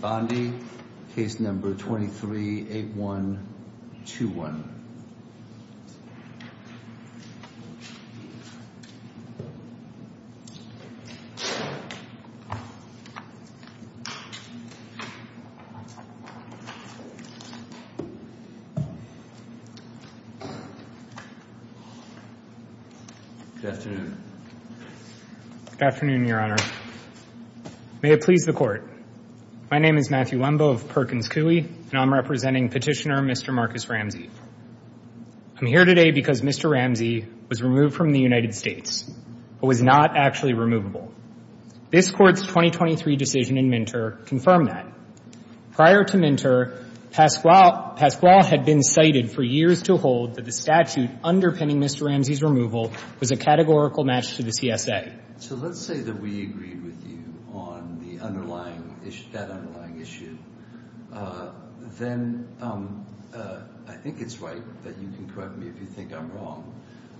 Bondi case number 23 8 1 2 1 Good afternoon. Good afternoon, your Honor. May it please the Court. My name is Matthew Wembo of Perkins Coie, and I'm representing Petitioner Mr. Marcus Ramsey. I'm here today because Mr. Ramsey was removed from the United States, but was not actually removable. This Court's 2023 decision in Minter confirmed that. Prior to Minter, Pasquale had been cited for years to hold that the statute underpinning Mr. Ramsey's removal was a categorical match to the CSA. So let's say that we agreed with you on the underlying issue, that underlying issue, then I think it's right that you can correct me if you think I'm wrong,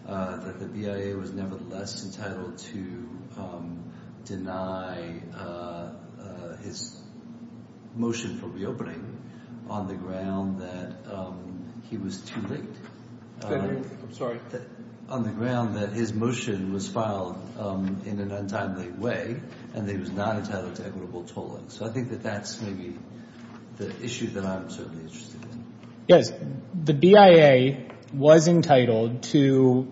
that the BIA was nevertheless entitled to deny his motion for reopening on the ground that he was too late. I'm sorry? On the ground that his motion was filed in an untimely way, and that he was not entitled to equitable tolling. So I think that that's maybe the issue that I'm certainly interested in. Yes. The BIA was entitled to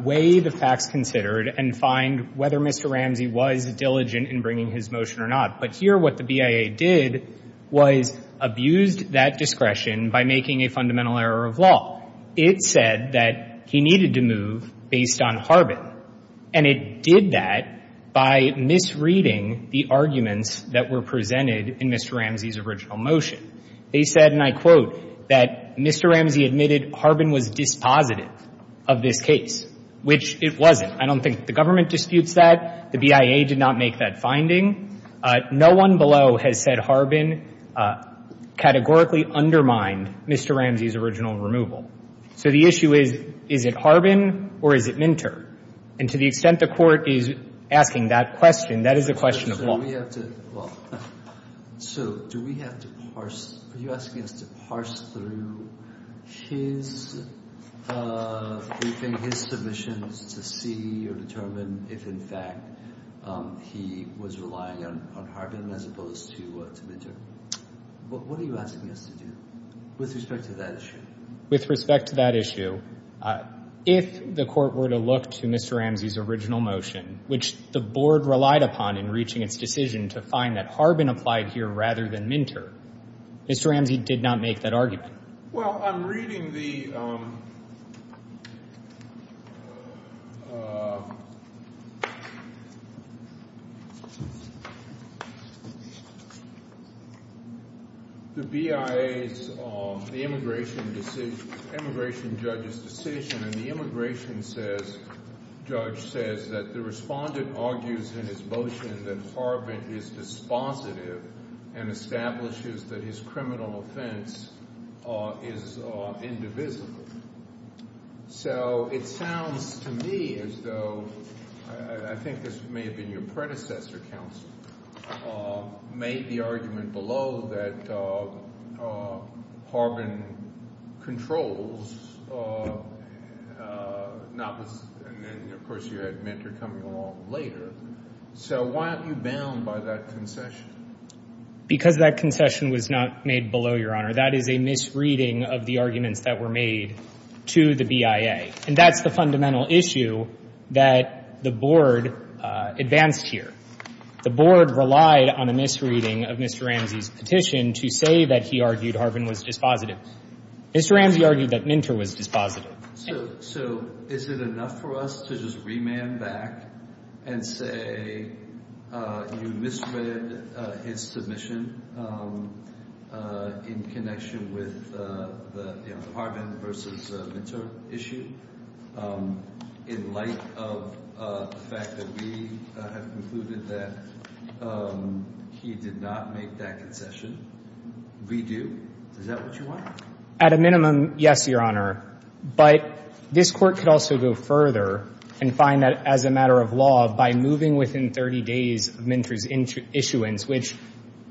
weigh the facts considered and find whether Mr. Ramsey was diligent in bringing his motion or not. But here, what the BIA did was abused that discretion by making a fundamental error of It said that he needed to move based on Harbin. And it did that by misreading the arguments that were presented in Mr. Ramsey's original motion. They said, and I quote, that Mr. Ramsey admitted Harbin was dispositive of this case, which it wasn't. I don't think the government disputes that. The BIA did not make that finding. No one below has said Harbin categorically undermined Mr. Ramsey's original removal. So the issue is, is it Harbin or is it Minter? And to the extent the Court is asking that question, that is a question of law. So do we have to parse? Are you asking us to parse through his submissions to see or determine if, in fact, he was relying on Harbin as opposed to Minter? What are you asking us to do with respect to that issue? With respect to that issue, if the Court were to look to Mr. Ramsey's original motion, which the Board relied upon in reaching its decision to find that Harbin applied here rather than Minter, Mr. Ramsey did not make that argument. Well, I'm reading the BIA's immigration judge's decision, and the immigration judge says that the respondent argues in his motion that Harbin is dispositive and establishes that his criminal offense is indivisible. So it sounds to me as though, I think this may have been your predecessor, counsel, made the argument below that Harbin controls, and then, of course, you had Minter coming along later. So why aren't you bound by that concession? Because that concession was not made below, Your Honor. That is a misreading of the arguments that were made to the BIA, and that's the fundamental issue that the Board advanced here. The Board relied on a misreading of Mr. Ramsey's petition to say that he argued Harbin was dispositive. Mr. Ramsey argued that Minter was dispositive. So is it enough for us to just remand back and say you misread his submission in connection with the Harbin versus Minter issue in light of the fact that we have concluded that he did not make that concession? Redo? Is that what you want? At a minimum, yes, Your Honor. But this Court could also go further and find that as a matter of law, by moving within 30 days of Minter's issuance, which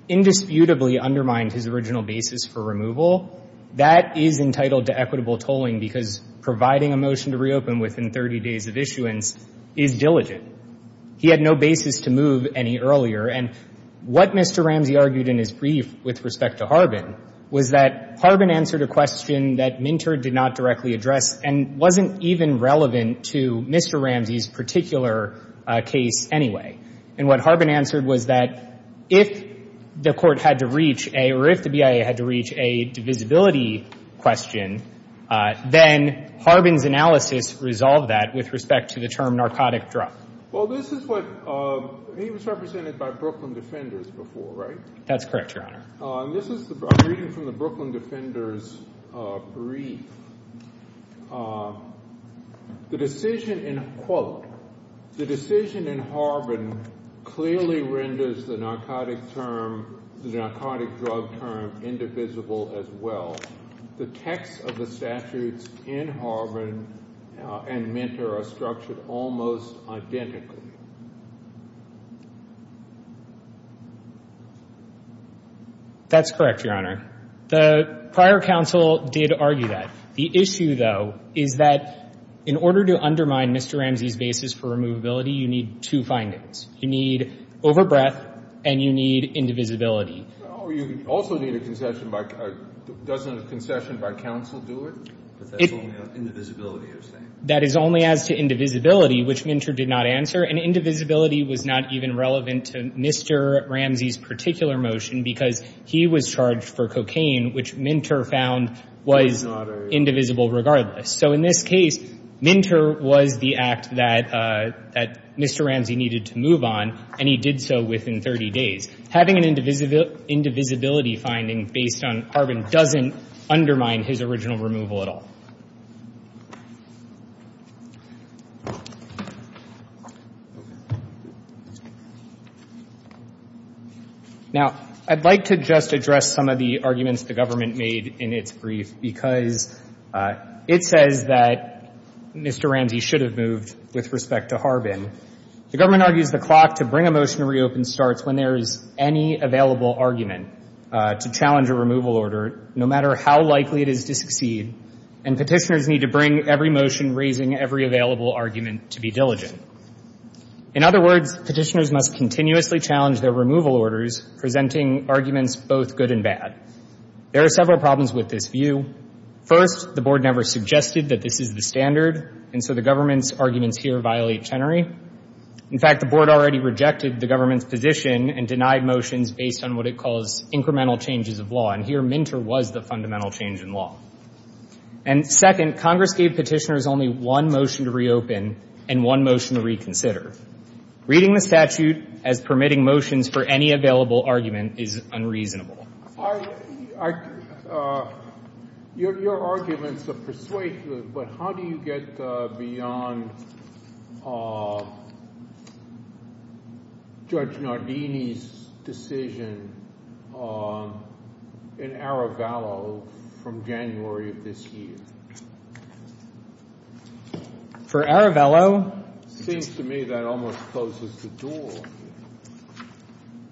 indisputably undermined his original basis for removal, that is entitled to equitable tolling because providing a motion to reopen within 30 days of issuance is diligent. He had no basis to move any earlier. And what Mr. Ramsey argued in his brief with respect to Harbin was that Harbin answered a question that Minter did not directly address and wasn't even relevant to Mr. Ramsey's particular case anyway. And what Harbin answered was that if the Court had to reach a, or if the BIA had to reach a divisibility question, then Harbin's analysis resolved that with respect to the term narcotic drug. Well, this is what he was represented by Brooklyn Defenders before, right? That's correct, Your Honor. And this is a reading from the Brooklyn Defenders brief. The decision in, quote, the decision in Harbin clearly renders the narcotic term, the narcotic drug term, indivisible as well. The text of the statutes in Harbin and Minter are structured almost identically. That's correct, Your Honor. The prior counsel did argue that. The issue, though, is that in order to undermine Mr. Ramsey's basis for removability, you need two findings. You need overbreath and you need indivisibility. Oh, you also need a concession by — doesn't a concession by counsel do it? But that's only on indivisibility, you're saying. That is only as to indivisibility, which Minter did not answer. And indivisibility was not even relevant to Mr. Ramsey's particular motion, because he was charged for cocaine, which Minter found was indivisible regardless. So in this case, Minter was the act that Mr. Ramsey needed to move on, and he did so within 30 days. Having an indivisibility finding based on Harbin doesn't undermine his original removal at all. Now, I'd like to just address some of the arguments the government made in its brief, because it says that Mr. Ramsey should have moved with respect to Harbin. The government argues the clock to bring a motion to reopen starts when there is any available argument to challenge a removal order, no matter how likely it is to succeed, and petitioners need to bring every motion raising every available argument to be diligent. In other words, petitioners must continuously challenge their removal orders, presenting arguments both good and bad. There are several problems with this view. First, the board never suggested that this is the standard, and so the government's arguments here violate Chenery. In fact, the board already rejected the government's position and denied motions based on what it calls incremental changes of law. And here, Minter was the fundamental change in law. And second, Congress gave petitioners only one motion to reopen and one motion to reconsider. Reading the statute as permitting motions for any available argument is unreasonable. Your arguments are persuasive, but how do you get beyond Judge Nardini's decision in Aravello from January of this year? For Aravello? Seems to me that almost closes the door.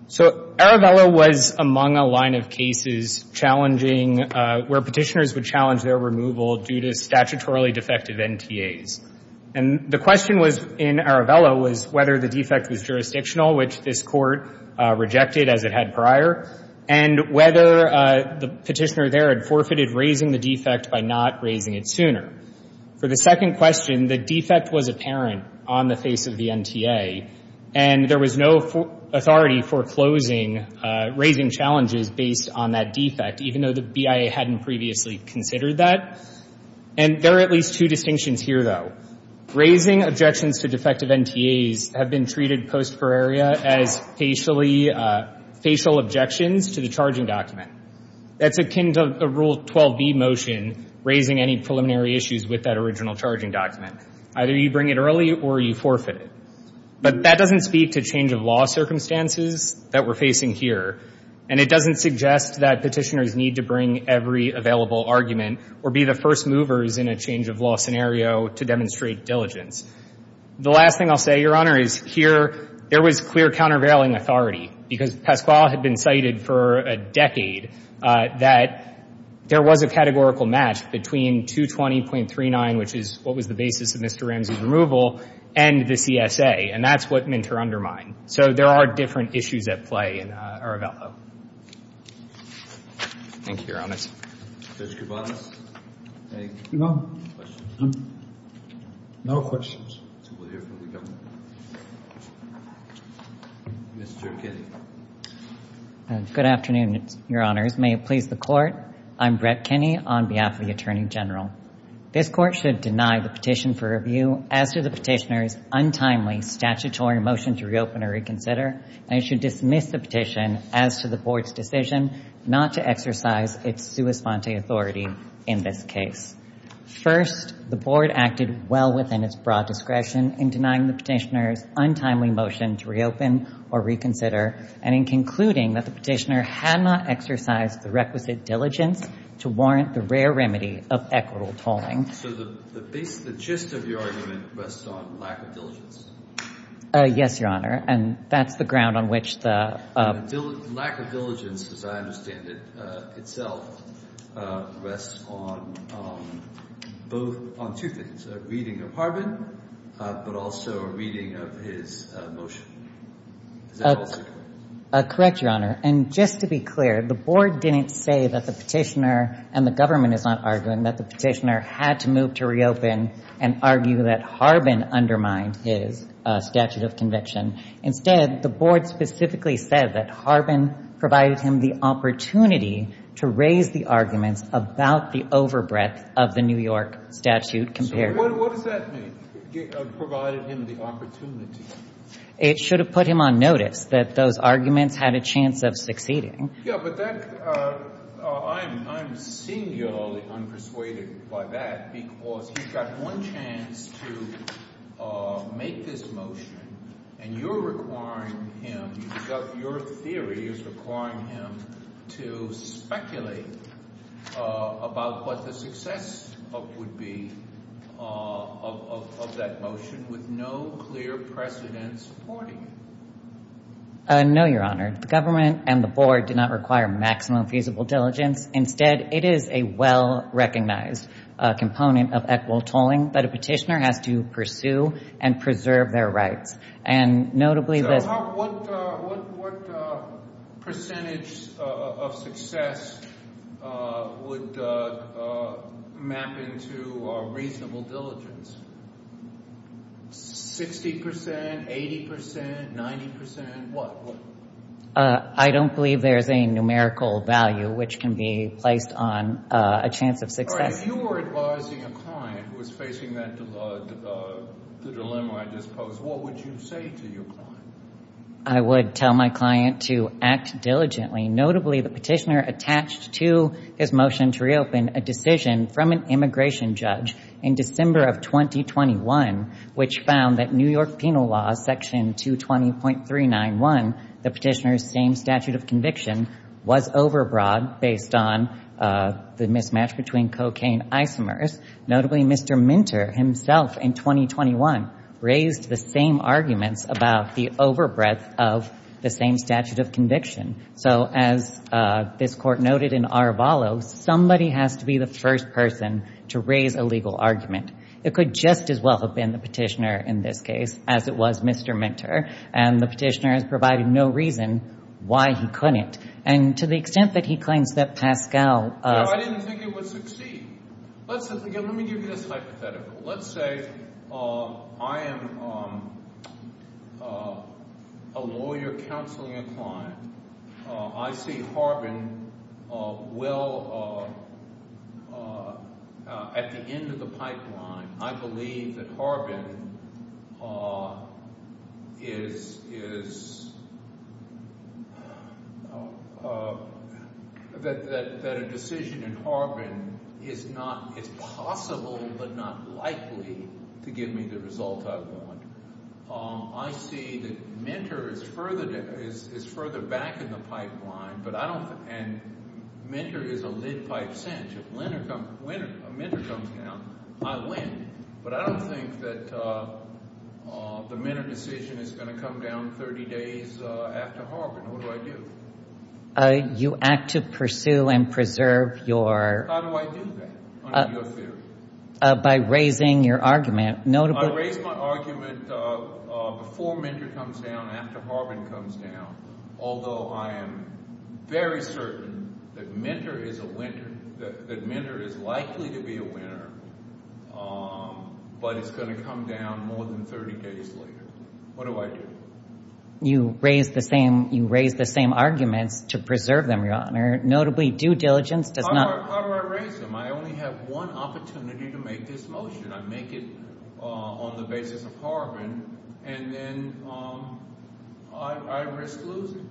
So Aravello was among a line of cases challenging where petitioners would challenge their removal due to statutorily defective NTAs. And the question was, in Aravello, was whether the defect was jurisdictional, which this Court rejected as it had prior, and whether the petitioner there had forfeited raising the defect by not raising it sooner. For the second question, the defect was apparent on the face of the NTA, and there was no authority for closing, raising challenges based on that defect, even though the BIA hadn't previously considered that. And there are at least two distinctions here, though. Raising objections to defective NTAs have been treated post-Ferraria as facial objections to the charging document. That's akin to the Rule 12b motion, raising any preliminary issues with that original charging document. Either you bring it early or you forfeit it. But that doesn't speak to change-of-law circumstances that we're facing here. And it doesn't suggest that petitioners need to bring every available argument or be the first movers in a change-of-law scenario to demonstrate diligence. The last thing I'll say, Your Honor, is here, there was clear countervailing authority, because Pasquale had been cited for a decade that there was a categorical match between 220.39, which is what was the basis of Mr. Ramsey's removal, and the CSA. And that's what Minter undermined. So there are different issues at play in Arevalo. Thank you, Your Honor. Judge Kovanec, any questions? No, no questions. We'll hear from the government. Mr. Kinney. Good afternoon, Your Honors. May it please the Court. I'm Brett Kinney on behalf of the Attorney General. This Court should deny the petition for review as to the petitioner's untimely statutory motion to reopen or reconsider, and it should dismiss the petition as to the Board's decision not to exercise its sua sponte authority in this case. First, the Board acted well within its broad discretion in denying the petitioner's untimely motion to reopen or reconsider, and in concluding that the petitioner had not exercised the requisite diligence to warrant the rare remedy of equitable tolling. So the gist of your argument rests on lack of diligence. Yes, Your Honor. And that's the ground on which the— Lack of diligence, as I understand it, itself rests on two things, a reading of Harbin, but also a reading of his motion. Is that also correct? Correct, Your Honor. And just to be clear, the Board didn't say that the petitioner— and the government is not arguing— that the petitioner had to move to reopen and argue that Harbin undermined his statute of conviction. Instead, the Board specifically said that Harbin provided him the opportunity to raise the arguments about the overbreadth of the New York statute compared— So what does that mean, provided him the opportunity? It should have put him on notice that those arguments had a chance of succeeding. Yeah, but that— I'm singularly unpersuaded by that, because he's got one chance to make this motion, and you're requiring him— your theory is requiring him to speculate about what the success would be of that motion with no clear precedent supporting it. No, Your Honor. The government and the Board did not require maximum feasible diligence. Instead, it is a well-recognized component of equitable tolling that a petitioner has to pursue and preserve their rights. And notably— So what percentage of success would map into reasonable diligence? 60 percent? 80 percent? 90 percent? What? I don't believe there's a numerical value which can be placed on a chance of success. All right, if you were advising a client who was facing the dilemma I just posed, what would you say to your client? I would tell my client to act diligently. Notably, the petitioner attached to his motion to reopen a decision from an immigration judge in December of 2021, which found that New York penal law section 220.391, the petitioner's same statute of conviction, was overbroad based on the mismatch between cocaine isomers. Notably, Mr. Minter himself in 2021 raised the same arguments about the overbreadth of the same statute of conviction. So as this court noted in Arevalo, somebody has to be the first person to raise a legal argument. It could just as well have been the petitioner in this case as it was Mr. Minter. And the petitioner has provided no reason why he couldn't. And to the extent that he claims that Pascal— No, I didn't think it would succeed. Let me give you this hypothetical. Let's say I am a lawyer counseling a client. I see Harbin well at the end of the pipeline. I believe that Harbin is— that a decision in Harbin is not— it's possible but not likely to give me the result I want. I see that Minter is further back in the pipeline, but I don't—and Minter is a lidpipe sentence. If Minter comes down, I win. But I don't think that the Minter decision is going to come down 30 days after Harbin. What do I do? You act to pursue and preserve your— How do I do that under your theory? By raising your argument. I raise my argument before Minter comes down, after Harbin comes down, although I am very certain that Minter is a winner, that Minter is likely to be a winner, but it's going to come down more than 30 days later. What do I do? You raise the same arguments to preserve them, Your Honor. Notably, due diligence does not— How do I raise them? I only have one opportunity to make this motion. I make it on the basis of Harbin, and then I risk losing.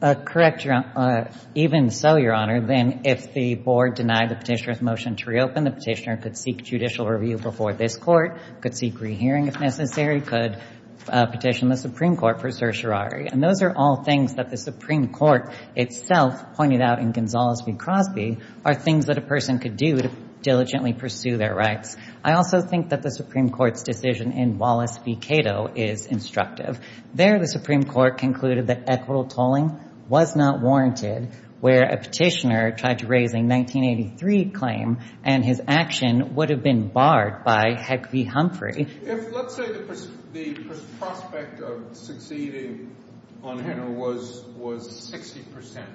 Correct, Your Honor. Even so, Your Honor, then if the board denied the petitioner's motion to reopen, the petitioner could seek judicial review before this court, could seek re-hearing if necessary, or he could petition the Supreme Court for certiorari. And those are all things that the Supreme Court itself pointed out in Gonzales v. Crosby are things that a person could do to diligently pursue their rights. I also think that the Supreme Court's decision in Wallace v. Cato is instructive. There the Supreme Court concluded that equitable tolling was not warranted, where a petitioner tried to raise a 1983 claim and his action would have been barred by Heck v. Humphrey. If, let's say, the prospect of succeeding on Henner was 60 percent,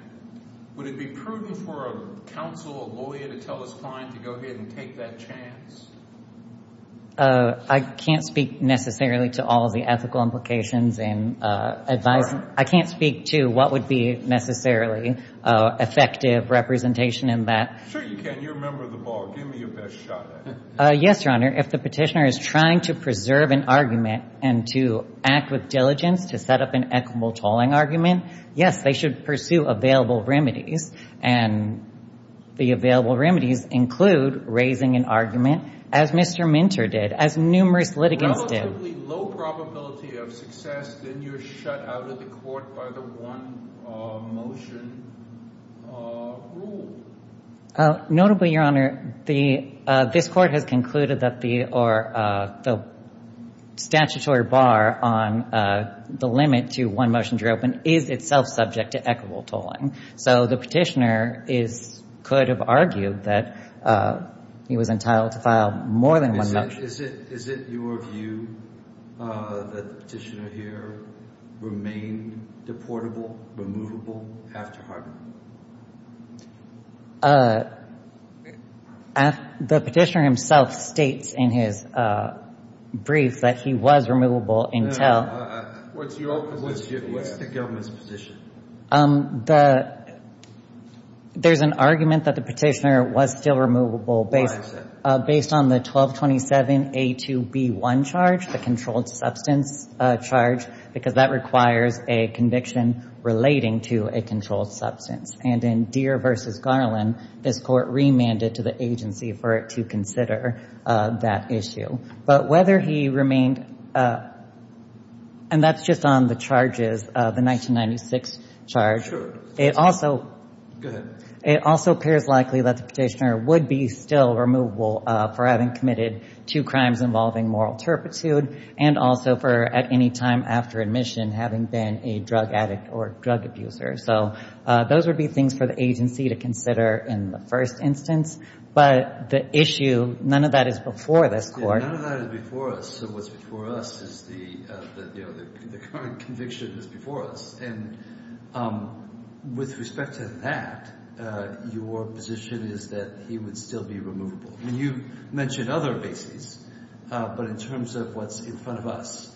would it be prudent for a counsel, a lawyer, to tell his client to go ahead and take that chance? I can't speak necessarily to all the ethical implications in advising. I can't speak to what would be necessarily effective representation in that. Sure you can. You're a member of the ball. Give me your best shot at it. Yes, Your Honor. If the petitioner is trying to preserve an argument and to act with diligence to set up an equitable tolling argument, yes, they should pursue available remedies. And the available remedies include raising an argument, as Mr. Minter did, as numerous litigants did. Relatively low probability of success, then you're shut out of the court by the one-motion rule. Notably, Your Honor, this Court has concluded that the statutory bar on the limit to one-motion drop-in is itself subject to equitable tolling. So the petitioner could have argued that he was entitled to file more than one motion. Judge, is it your view that the petitioner here remained deportable, removable after Hartman? The petitioner himself states in his brief that he was removable until... What's the government's position? There's an argument that the petitioner was still removable based on the 1227A2B1 charge, the controlled substance charge, because that requires a conviction relating to a controlled substance. And in Deere v. Garland, this Court remanded to the agency for it to consider that issue. But whether he remained... And that's just on the charges, the 1996 charge. It also... Go ahead. It also appears likely that the petitioner would be still removable for having committed two crimes involving moral turpitude and also for, at any time after admission, having been a drug addict or drug abuser. So those would be things for the agency to consider in the first instance. But the issue, none of that is before this Court. Yeah, none of that is before us. So what's before us is the, you know, the current conviction is before us. And with respect to that, your position is that he would still be removable. I mean, you mentioned other bases, but in terms of what's in front of us,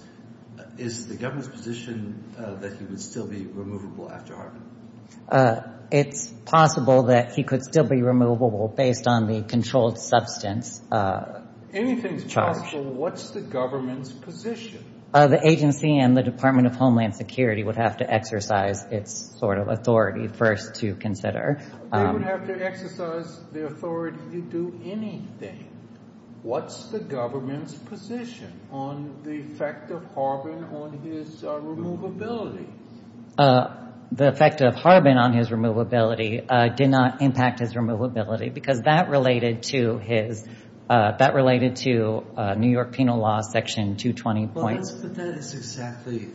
is the government's position that he would still be removable after Hartman? It's possible that he could still be removable based on the controlled substance charge. Anything's possible. What's the government's position? The agency and the Department of Homeland Security would have to exercise its sort of authority first to consider. They would have to exercise the authority to do anything. What's the government's position on the effect of Hartman on his removability? The effect of Hartman on his removability did not impact his removability, because that related to his, that related to New York penal law section 220. But that is exactly,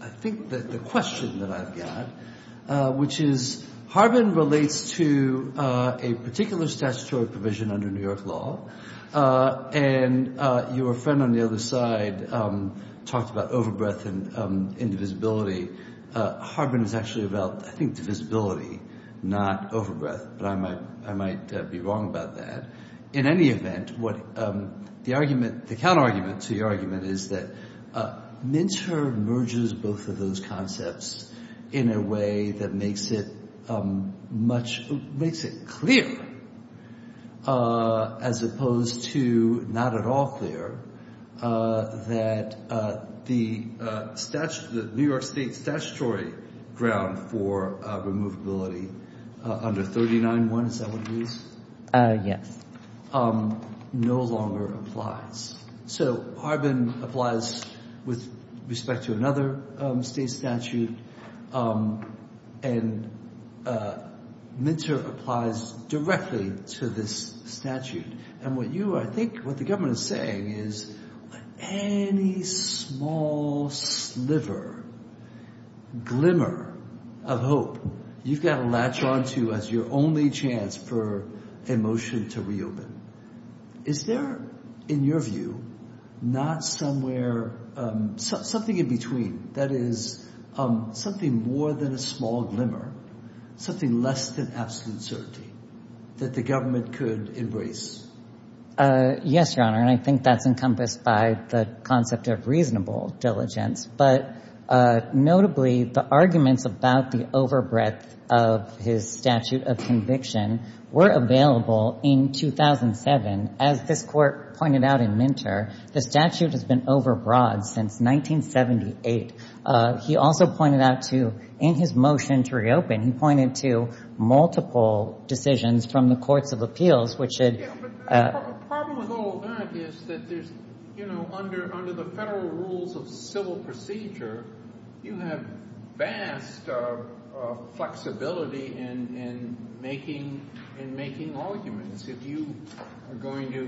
I think, the question that I've got, which is Hartman relates to a particular statutory provision under New York law. And your friend on the other side talked about overbreath and indivisibility. Hartman is actually about, I think, divisibility, not overbreath. But I might be wrong about that. In any event, what the argument, the counterargument to your argument is that Minter merges both of those concepts in a way that makes it much, makes it clear, as opposed to not at all clear, that the New York State statutory ground for removability under 39-1, is that what it is? Yes. No longer applies. So Hartman applies with respect to another state statute, and Minter applies directly to this statute. And what you, I think, what the government is saying is, any small sliver, glimmer of hope, you've got to latch on to as your only chance for a motion to reopen. Is there, in your view, not somewhere, something in between, that is something more than a small glimmer, something less than absolute certainty that the government could embrace? Yes, Your Honor, and I think that's encompassed by the concept of reasonable diligence. But notably, the arguments about the overbreath of his statute of conviction were available in 2007. As this Court pointed out in Minter, the statute has been overbroad since 1978. He also pointed out to, in his motion to reopen, he pointed to multiple decisions from the courts of appeals, which had — Yeah, but the problem with all that is that there's, you know, under the federal rules of civil procedure, you have vast flexibility in making arguments. If you are going to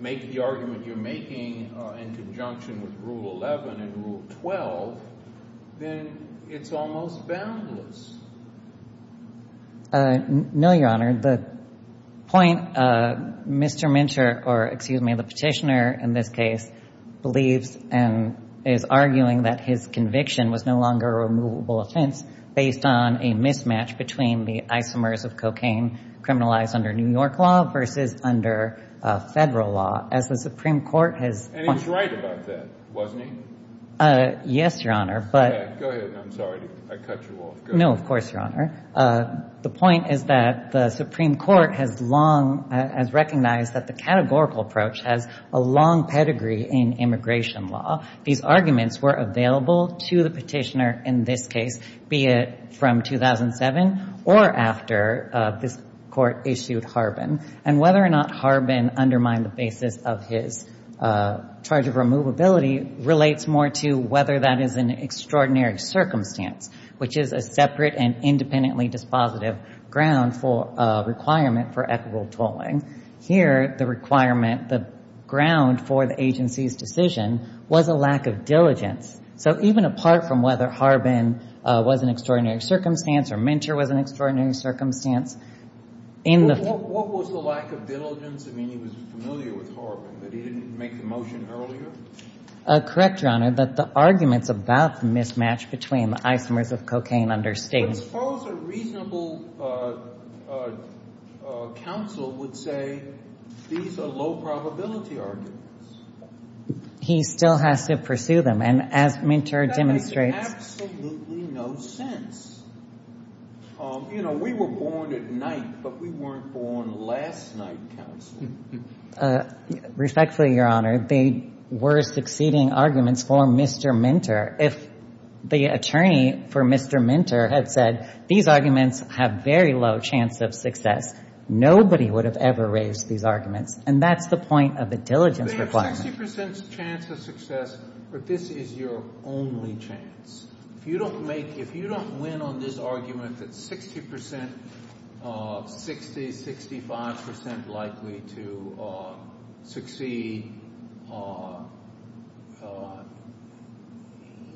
make the argument you're making in conjunction with Rule 11 and Rule 12, then it's almost boundless. No, Your Honor. The point Mr. Minter — or, excuse me, the petitioner, in this case, believes and is arguing that his conviction was no longer a removable offense based on a mismatch between the isomers of cocaine criminalized under New York law versus under federal law, as the Supreme Court has — And he was right about that, wasn't he? Yes, Your Honor, but — Go ahead. I'm sorry. I cut you off. Go ahead. No, of course, Your Honor. The point is that the Supreme Court has long — has recognized that the categorical approach has a long pedigree in immigration law. These arguments were available to the petitioner in this case, be it from 2007 or after this Court issued Harbin. And whether or not Harbin undermined the basis of his charge of removability relates more to whether that is an extraordinary circumstance, which is a separate and independently dispositive ground for — requirement for equitable tolling. Here, the requirement — the ground for the agency's decision was a lack of diligence. So even apart from whether Harbin was an extraordinary circumstance or Minter was an extraordinary circumstance, in the — What was the lack of diligence? I mean, he was familiar with Harbin, but he didn't make the motion earlier? Correct, Your Honor, that the arguments about the mismatch between the isomers of cocaine understate — But suppose a reasonable counsel would say these are low-probability arguments. He still has to pursue them. And as Minter demonstrates — That makes absolutely no sense. You know, we were born at night, but we weren't born last night, counsel. Respectfully, Your Honor, they were succeeding arguments for Mr. Minter. If the attorney for Mr. Minter had said these arguments have very low chance of success, nobody would have ever raised these arguments. And that's the point of a diligence requirement. They have 60 percent chance of success, but this is your only chance. If you don't make — if you don't win on this argument that 60 percent, 60, 65 percent likely to succeed,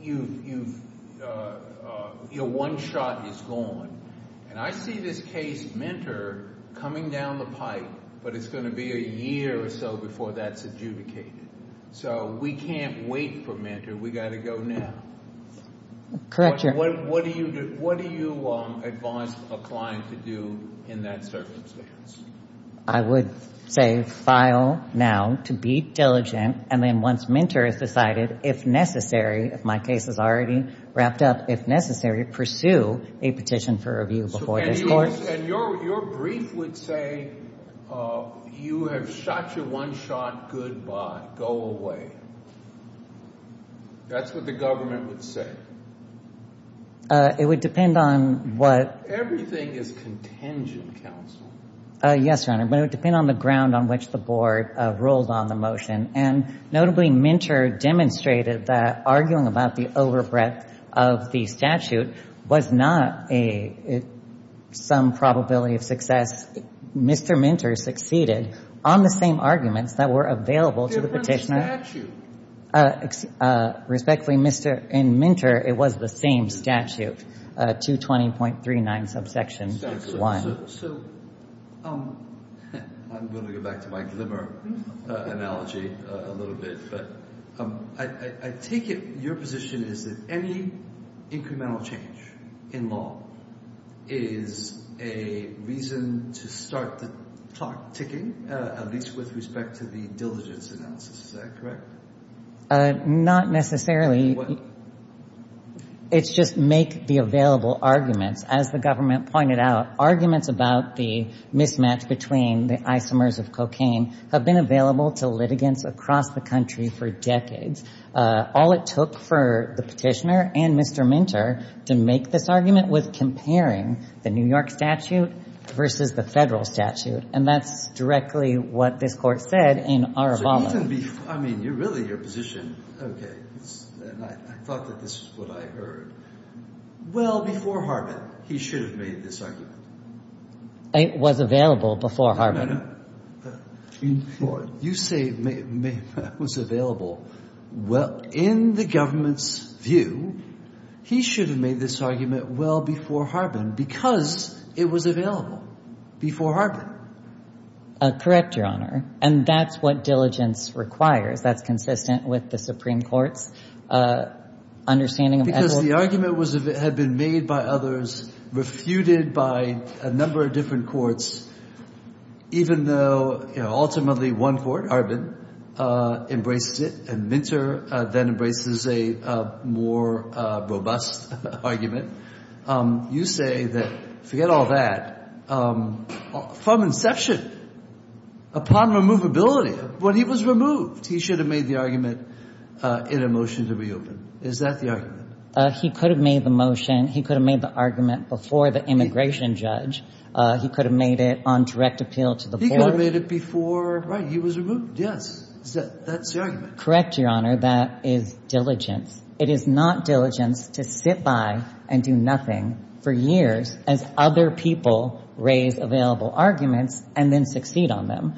you've — your one shot is gone. And I see this case, Minter, coming down the pipe, but it's going to be a year or so before that's adjudicated. So we can't wait for Minter. We've got to go now. Correct your — What do you advise a client to do in that circumstance? I would say file now to be diligent. And then once Minter has decided, if necessary, if my case is already wrapped up, if necessary, pursue a petition for review before this court. And your brief would say, you have shot your one shot. Goodbye. Go away. That's what the government would say. It would depend on what — Everything is contingent, counsel. Yes, Your Honor, but it would depend on the ground on which the board ruled on the motion. And notably, Minter demonstrated that arguing about the overbreadth of the statute was not a — some probability of success. Mr. Minter succeeded on the same arguments that were available to the petitioner. Respectfully, Mr. — in Minter, it was the same statute, 220.39 subsection 1. So I'm going to go back to my glimmer analogy a little bit. But I take it your position is that any incremental change in law is a reason to start the clock ticking, at least with respect to the diligence analysis. Is that correct? Not necessarily. It's just make the available arguments. As the government pointed out, arguments about the mismatch between the isomers of cocaine have been available to litigants across the country for decades. All it took for the petitioner and Mr. Minter to make this argument was comparing the New York statute versus the federal statute. And that's directly what this Court said in Arabala. So even before — I mean, really, your position — okay. And I thought that this is what I heard. Well, before Harbin, he should have made this argument. It was available before Harbin. No, no, no. You say it was available. Well, in the government's view, he should have made this argument well before Harbin because it was available before Harbin. Correct, Your Honor. And that's what diligence requires. That's consistent with the Supreme Court's understanding of — Because the argument had been made by others, refuted by a number of different courts, even though ultimately one court, Harbin, embraced it, and Minter then embraces a more robust argument. You say that — forget all that — from inception, upon removability, when he was removed, he should have made the argument in a motion to reopen. Is that the argument? He could have made the motion. He could have made the argument before the immigration judge. He could have made it on direct appeal to the board. He could have made it before — right. He was removed. Yes. That's the argument. Correct, Your Honor. That is diligence. It is not diligence to sit by and do nothing for years as other people raise available arguments and then succeed on them.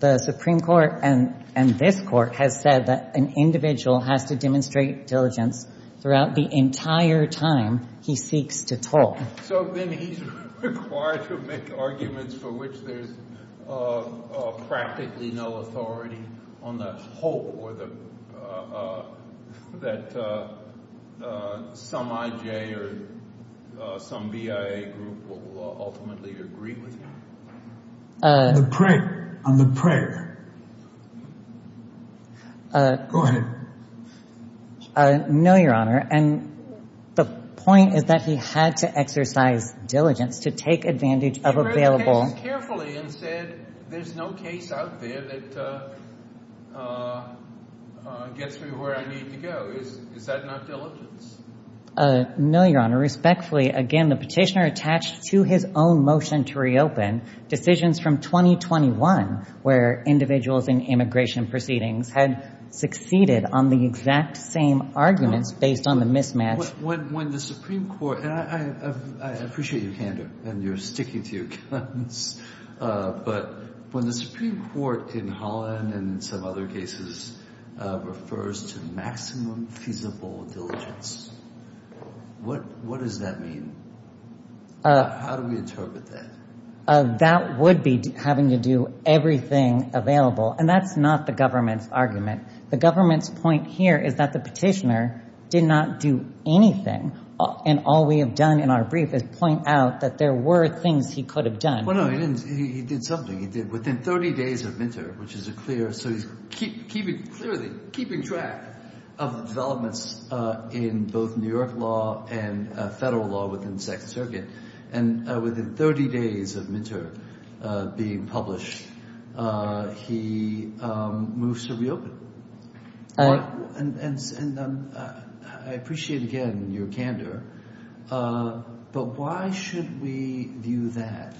The Supreme Court and this Court has said that an individual has to demonstrate diligence throughout the entire time he seeks to talk. So then he's required to make arguments for which there's practically no authority on the hope that some I.J. or some BIA group will ultimately agree with him? On the prayer. On the prayer. Go ahead. No, Your Honor. And the point is that he had to exercise diligence to take advantage of available — He read the cases carefully and said there's no case out there that gets me where I need to go. Is that not diligence? No, Your Honor. And respectfully, again, the petitioner attached to his own motion to reopen decisions from 2021 where individuals in immigration proceedings had succeeded on the exact same arguments based on the mismatch. I appreciate your candor and your sticking to your guns. But when the Supreme Court in Holland and some other cases refers to maximum feasible diligence, what does that mean? How do we interpret that? That would be having to do everything available. And that's not the government's argument. The government's point here is that the petitioner did not do anything. And all we have done in our brief is point out that there were things he could have done. Well, no, he didn't. He did something. He did within 30 days of Minter, which is a clear — so he's keeping — clearly keeping track of developments in both New York law and federal law within the Second Circuit. And within 30 days of Minter being published, he moves to reopen. And I appreciate, again, your candor. But why should we view that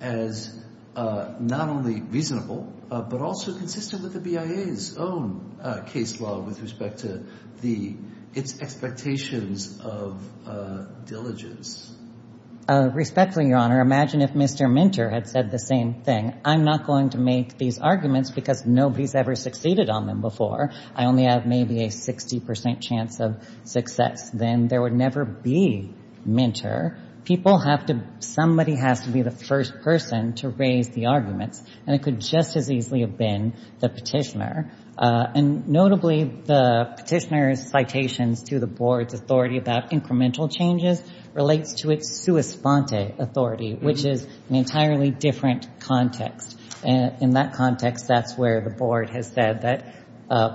as not only reasonable but also consistent with the BIA's own case law with respect to the — its expectations of diligence? Respectfully, Your Honor, imagine if Mr. Minter had said the same thing. And I'm not going to make these arguments because nobody's ever succeeded on them before. I only have maybe a 60 percent chance of success. Then there would never be Minter. People have to — somebody has to be the first person to raise the arguments. And it could just as easily have been the petitioner. And notably, the petitioner's citations to the board's authority about incremental changes relates to its sua sponte authority, which is an entirely different context. And in that context, that's where the board has said that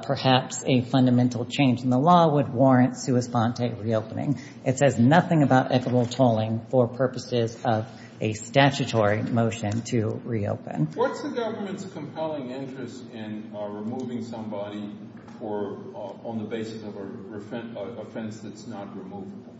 perhaps a fundamental change in the law would warrant sua sponte reopening. It says nothing about equitable tolling for purposes of a statutory motion to reopen. What's the government's compelling interest in removing somebody for — on the basis of an offense that's not removable?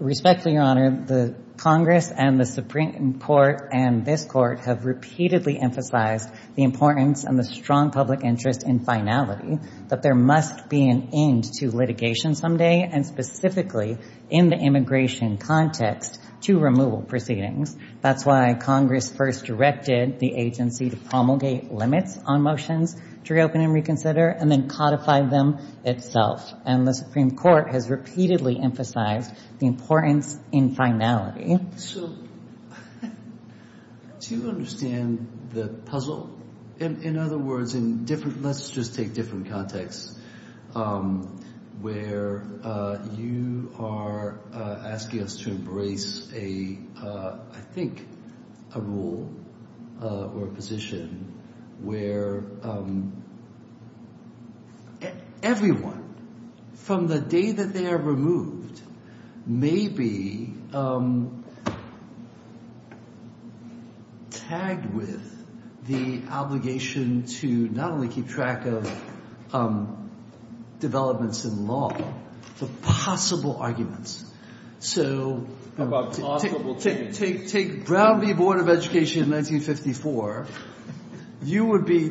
Respectfully, Your Honor, the Congress and the Supreme Court and this Court have repeatedly emphasized the importance and the strong public interest in finality, that there must be an end to litigation someday, and specifically in the immigration context, to removal proceedings. That's why Congress first directed the agency to promulgate limits on motions to reopen and reconsider and then codify them itself. And the Supreme Court has repeatedly emphasized the importance in finality. So do you understand the puzzle? In other words, in different – let's just take different contexts where you are asking us to embrace a – I think a rule or a position where everyone, from the day that they are removed, may be tagged with the obligation to not only keep track of developments in law, but possible arguments. So take Brown v. Board of Education in 1954. You would be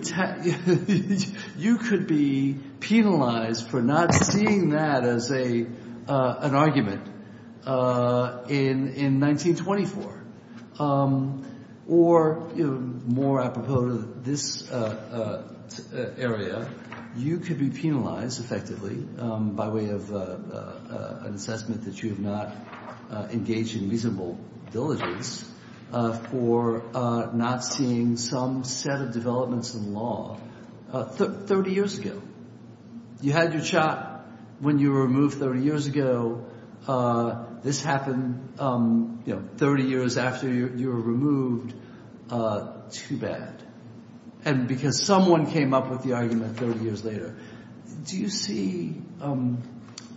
– you could be penalized for not seeing that as an argument in 1924. Or more apropos to this area, you could be penalized effectively by way of an assessment that you have not engaged in reasonable diligence for not seeing some set of developments in law 30 years ago. You had your shot when you were removed 30 years ago. This happened 30 years after you were removed. Too bad. And because someone came up with the argument 30 years later. Do you see – and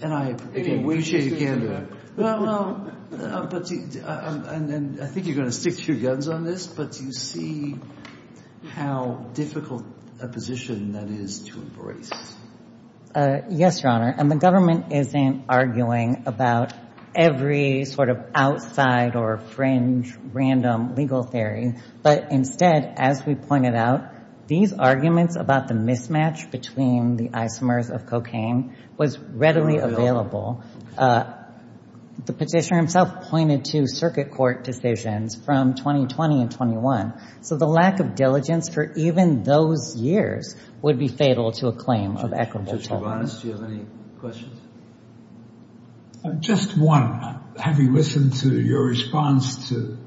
I appreciate again – and I think you're going to stick to your guns on this, but do you see how difficult a position that is to embrace? Yes, Your Honor. And the government isn't arguing about every sort of outside or fringe random legal theory. But instead, as we pointed out, these arguments about the mismatch between the isomers of cocaine was readily available. The petitioner himself pointed to circuit court decisions from 2020 and 21. So the lack of diligence for even those years would be fatal to a claim of equitable tolerance. Just one. Having listened to your response to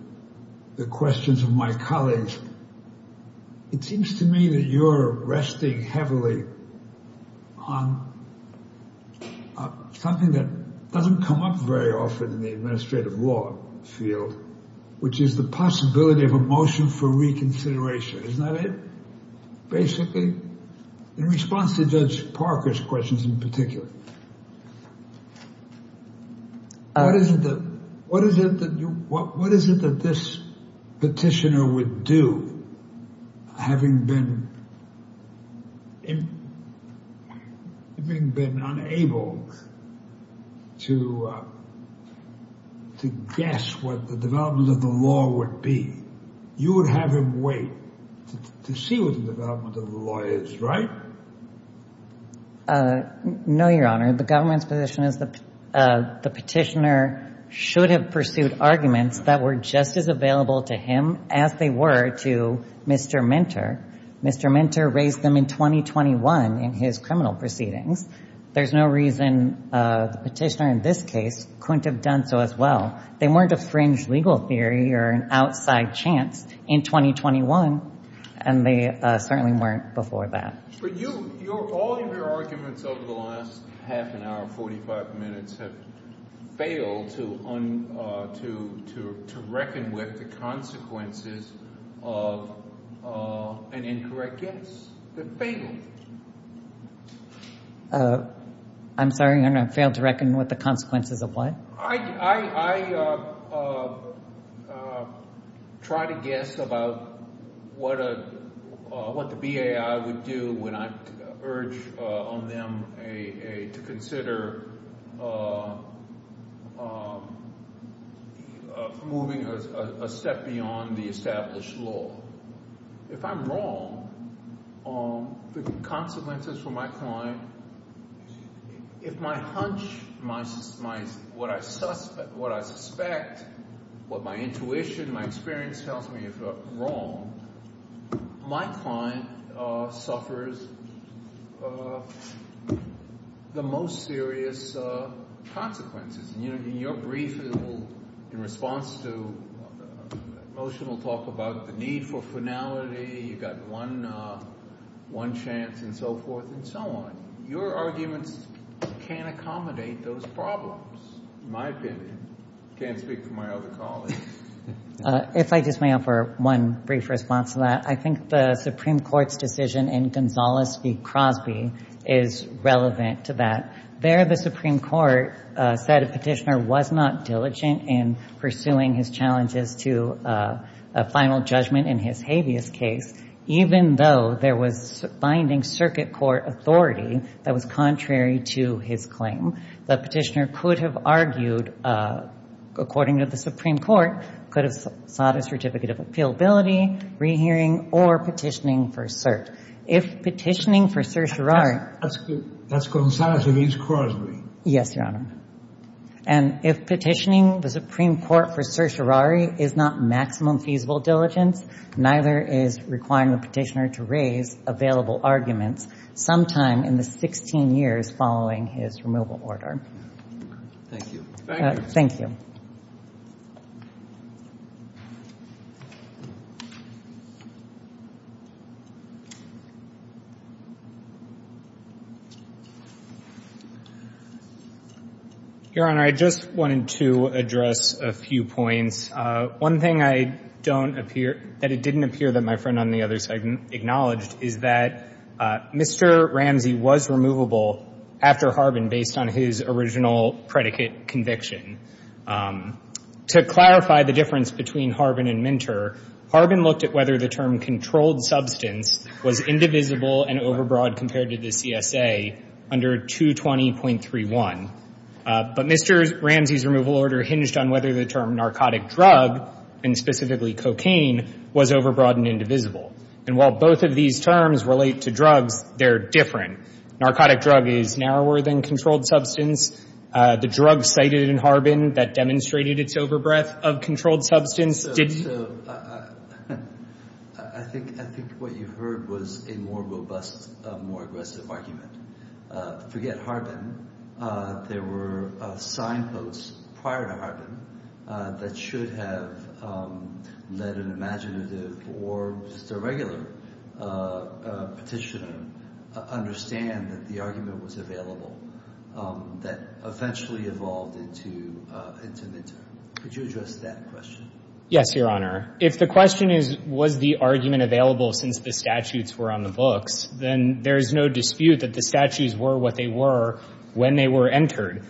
the questions of my colleagues, it seems to me that you're resting heavily on something that doesn't come up very often in the administrative law field, which is the possibility of a motion for reconsideration. Isn't that it, basically? In response to Judge Parker's questions in particular, what is it that this petitioner would do, having been unable to guess what the development of the law would be? You would have him wait to see what the development of the law is, right? But all of your arguments over the last half an hour, 45 minutes, have failed to reckon with the consequences of an incorrect guess. They're fatal. I'm sorry, Your Honor? Failed to reckon with the consequences of what? I try to guess about what the BAI would do when I urge on them to consider moving a step beyond the established law. If I'm wrong, the consequences for my client – if my hunch, what I suspect, what my intuition, my experience tells me is wrong, my client suffers the most serious consequences. In your brief, in response to the motion, we'll talk about the need for finality. You've got one chance and so forth and so on. Your arguments can't accommodate those problems, in my opinion. I can't speak for my other colleagues. If I just may offer one brief response to that, I think the Supreme Court's decision in Gonzales v. Crosby is relevant to that. There, the Supreme Court said a petitioner was not diligent in pursuing his challenges to a final judgment in his habeas case, even though there was binding circuit court authority that was contrary to his claim. The petitioner could have argued, according to the Supreme Court, could have sought a certificate of appealability, rehearing, or petitioning for cert. If petitioning for certiorari – That's Gonzales v. Crosby. Yes, Your Honor. And if petitioning the Supreme Court for certiorari is not maximum feasible diligence, neither is requiring the petitioner to raise available arguments sometime in the 16 years following his removal order. Thank you. Thank you. Your Honor, I just wanted to address a few points. One thing I don't appear – that it didn't appear that my friend on the other side acknowledged is that Mr. Ramsey was removable after Harbin based on his original predicate conviction. To clarify the difference between Harbin and Minter, But Mr. Ramsey's removal order hinged on whether the term narcotic drug, and specifically cocaine, was overbroad and indivisible. And while both of these terms relate to drugs, they're different. Narcotic drug is narrower than controlled substance. The drug cited in Harbin that demonstrated its overbreath of controlled substance didn't. So I think what you heard was a more robust, more aggressive argument. Forget Harbin. There were signposts prior to Harbin that should have let an imaginative or just a regular petitioner understand that the argument was available that eventually evolved into Minter. Could you address that question? Yes, Your Honor. If the question is, was the argument available since the statutes were on the books, then there is no dispute that the statutes were what they were when they were entered.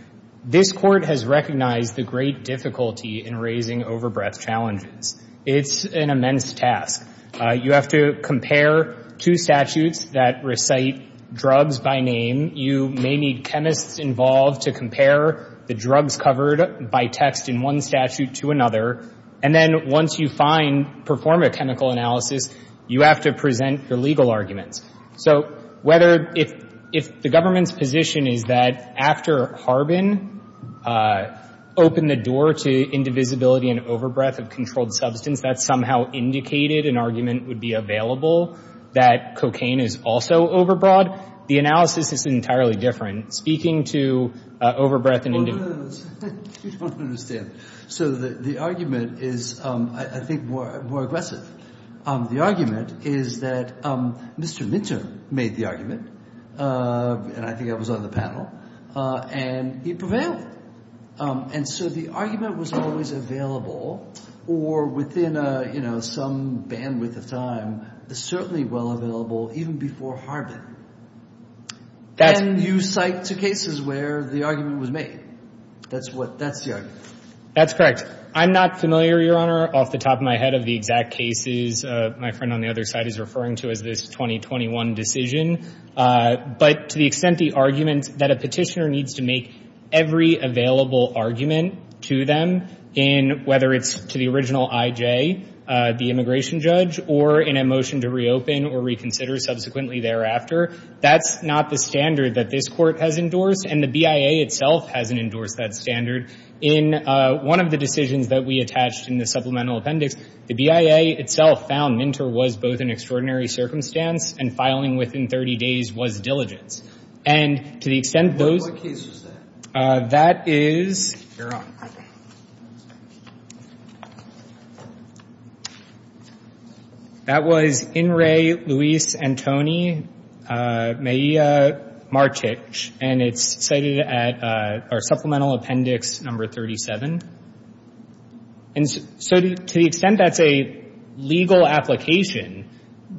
This Court has recognized the great difficulty in raising overbreath challenges. It's an immense task. You have to compare two statutes that recite drugs by name. You may need chemists involved to compare the drugs covered by text in one statute to another. And then once you find, perform a chemical analysis, you have to present the legal arguments. So whether if the government's position is that after Harbin opened the door to indivisibility and overbreath of controlled substance, that somehow indicated an argument would be available that cocaine is also overbroad, the analysis is entirely different. Speaking to overbreath and indivisibility. You don't understand. So the argument is, I think, more aggressive. The argument is that Mr. Minter made the argument, and I think I was on the panel, and he prevailed. And so the argument was always available or within some bandwidth of time. It's certainly well available even before Harbin. And you cite two cases where the argument was made. That's the argument. That's correct. I'm not familiar, Your Honor, off the top of my head of the exact cases my friend on the other side is referring to as this 2021 decision. But to the extent the argument that a petitioner needs to make every available argument to them, whether it's to the original I.J., the immigration judge, or in a motion to reopen or reconsider subsequently thereafter, that's not the standard that this Court has endorsed, and the BIA itself hasn't endorsed that standard. In one of the decisions that we attached in the supplemental appendix, the BIA itself found Minter was both an extraordinary circumstance and filing within 30 days was diligence. And to the extent those. What case was that? That is. Your Honor. That was In Re Luis Antoni Mejia Martich, and it's cited at our supplemental appendix number 37. And so to the extent that's a legal application,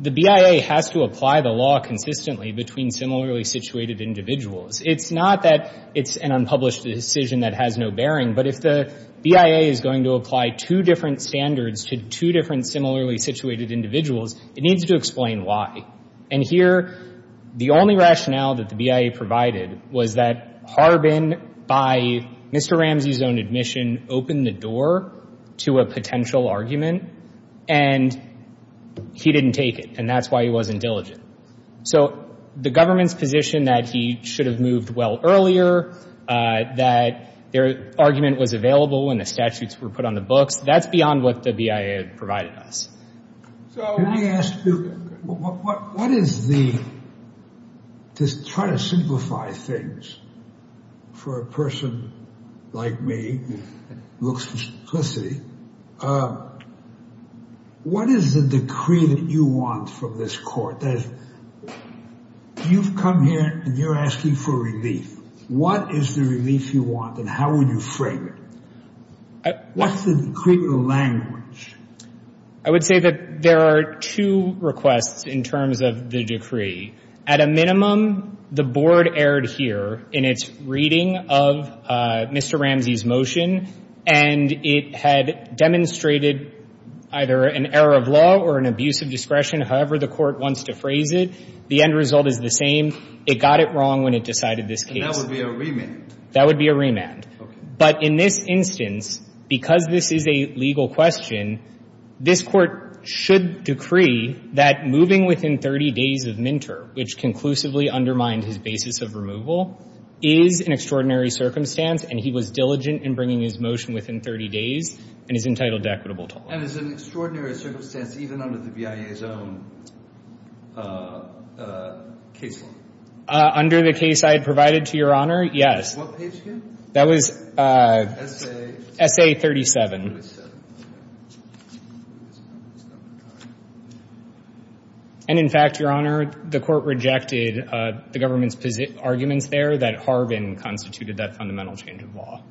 the BIA has to apply the law consistently between similarly situated individuals. It's not that it's an unpublished decision that has no bearing, but if the BIA is going to apply two different standards to two different similarly situated individuals, it needs to explain why. And here, the only rationale that the BIA provided was that Harbin, by Mr. Ramsey's own admission, opened the door to a potential argument, and he didn't take it, and that's why he wasn't diligent. So the government's position that he should have moved well earlier, that their argument was available when the statutes were put on the books, that's beyond what the BIA provided us. So let me ask you, what is the, to try to simplify things for a person like me who looks for simplicity, what is the decree that you want from this court? You've come here, and you're asking for relief. What is the relief you want, and how would you frame it? What's the decree, the language? I would say that there are two requests in terms of the decree. At a minimum, the board erred here in its reading of Mr. Ramsey's motion, and it had demonstrated either an error of law or an abuse of discretion, however the court wants to phrase it. The end result is the same. It got it wrong when it decided this case. And that would be a remand? That would be a remand. Okay. But in this instance, because this is a legal question, this Court should decree that moving within 30 days of minter, which conclusively undermined his basis of removal, is an extraordinary circumstance, and he was diligent in bringing his motion within 30 days and is entitled to equitable toll. And it's an extraordinary circumstance even under the BIA's own case law? Under the case I had provided to Your Honor, yes. What page here? That was S.A. 37. S.A. 37. And, in fact, Your Honor, the court rejected the government's arguments there that Harvin constituted that fundamental change of law.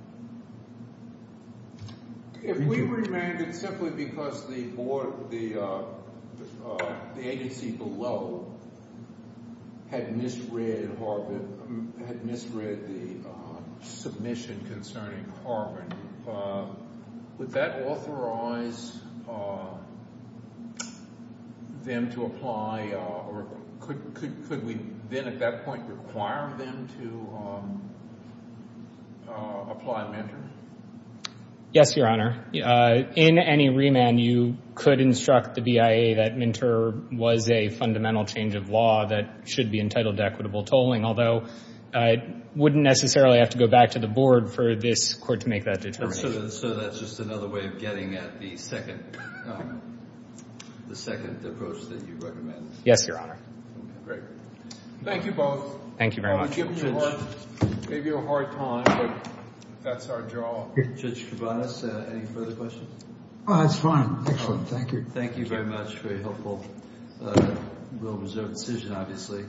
If we remanded simply because the agency below had misread the submission concerning Harvin, would that authorize them to apply or could we then at that point require them to apply minter? Yes, Your Honor. In any remand, you could instruct the BIA that minter was a fundamental change of law that should be entitled to equitable tolling, although it wouldn't necessarily have to go back to the board for this court to make that determination. So that's just another way of getting at the second approach that you recommend? Yes, Your Honor. Great. Thank you both. Thank you very much. We gave you a hard time, but that's our job. Judge Kouvanos, any further questions? That's fine. Excellent. Thank you. Thank you very much. Very helpful. We'll reserve the decision, obviously.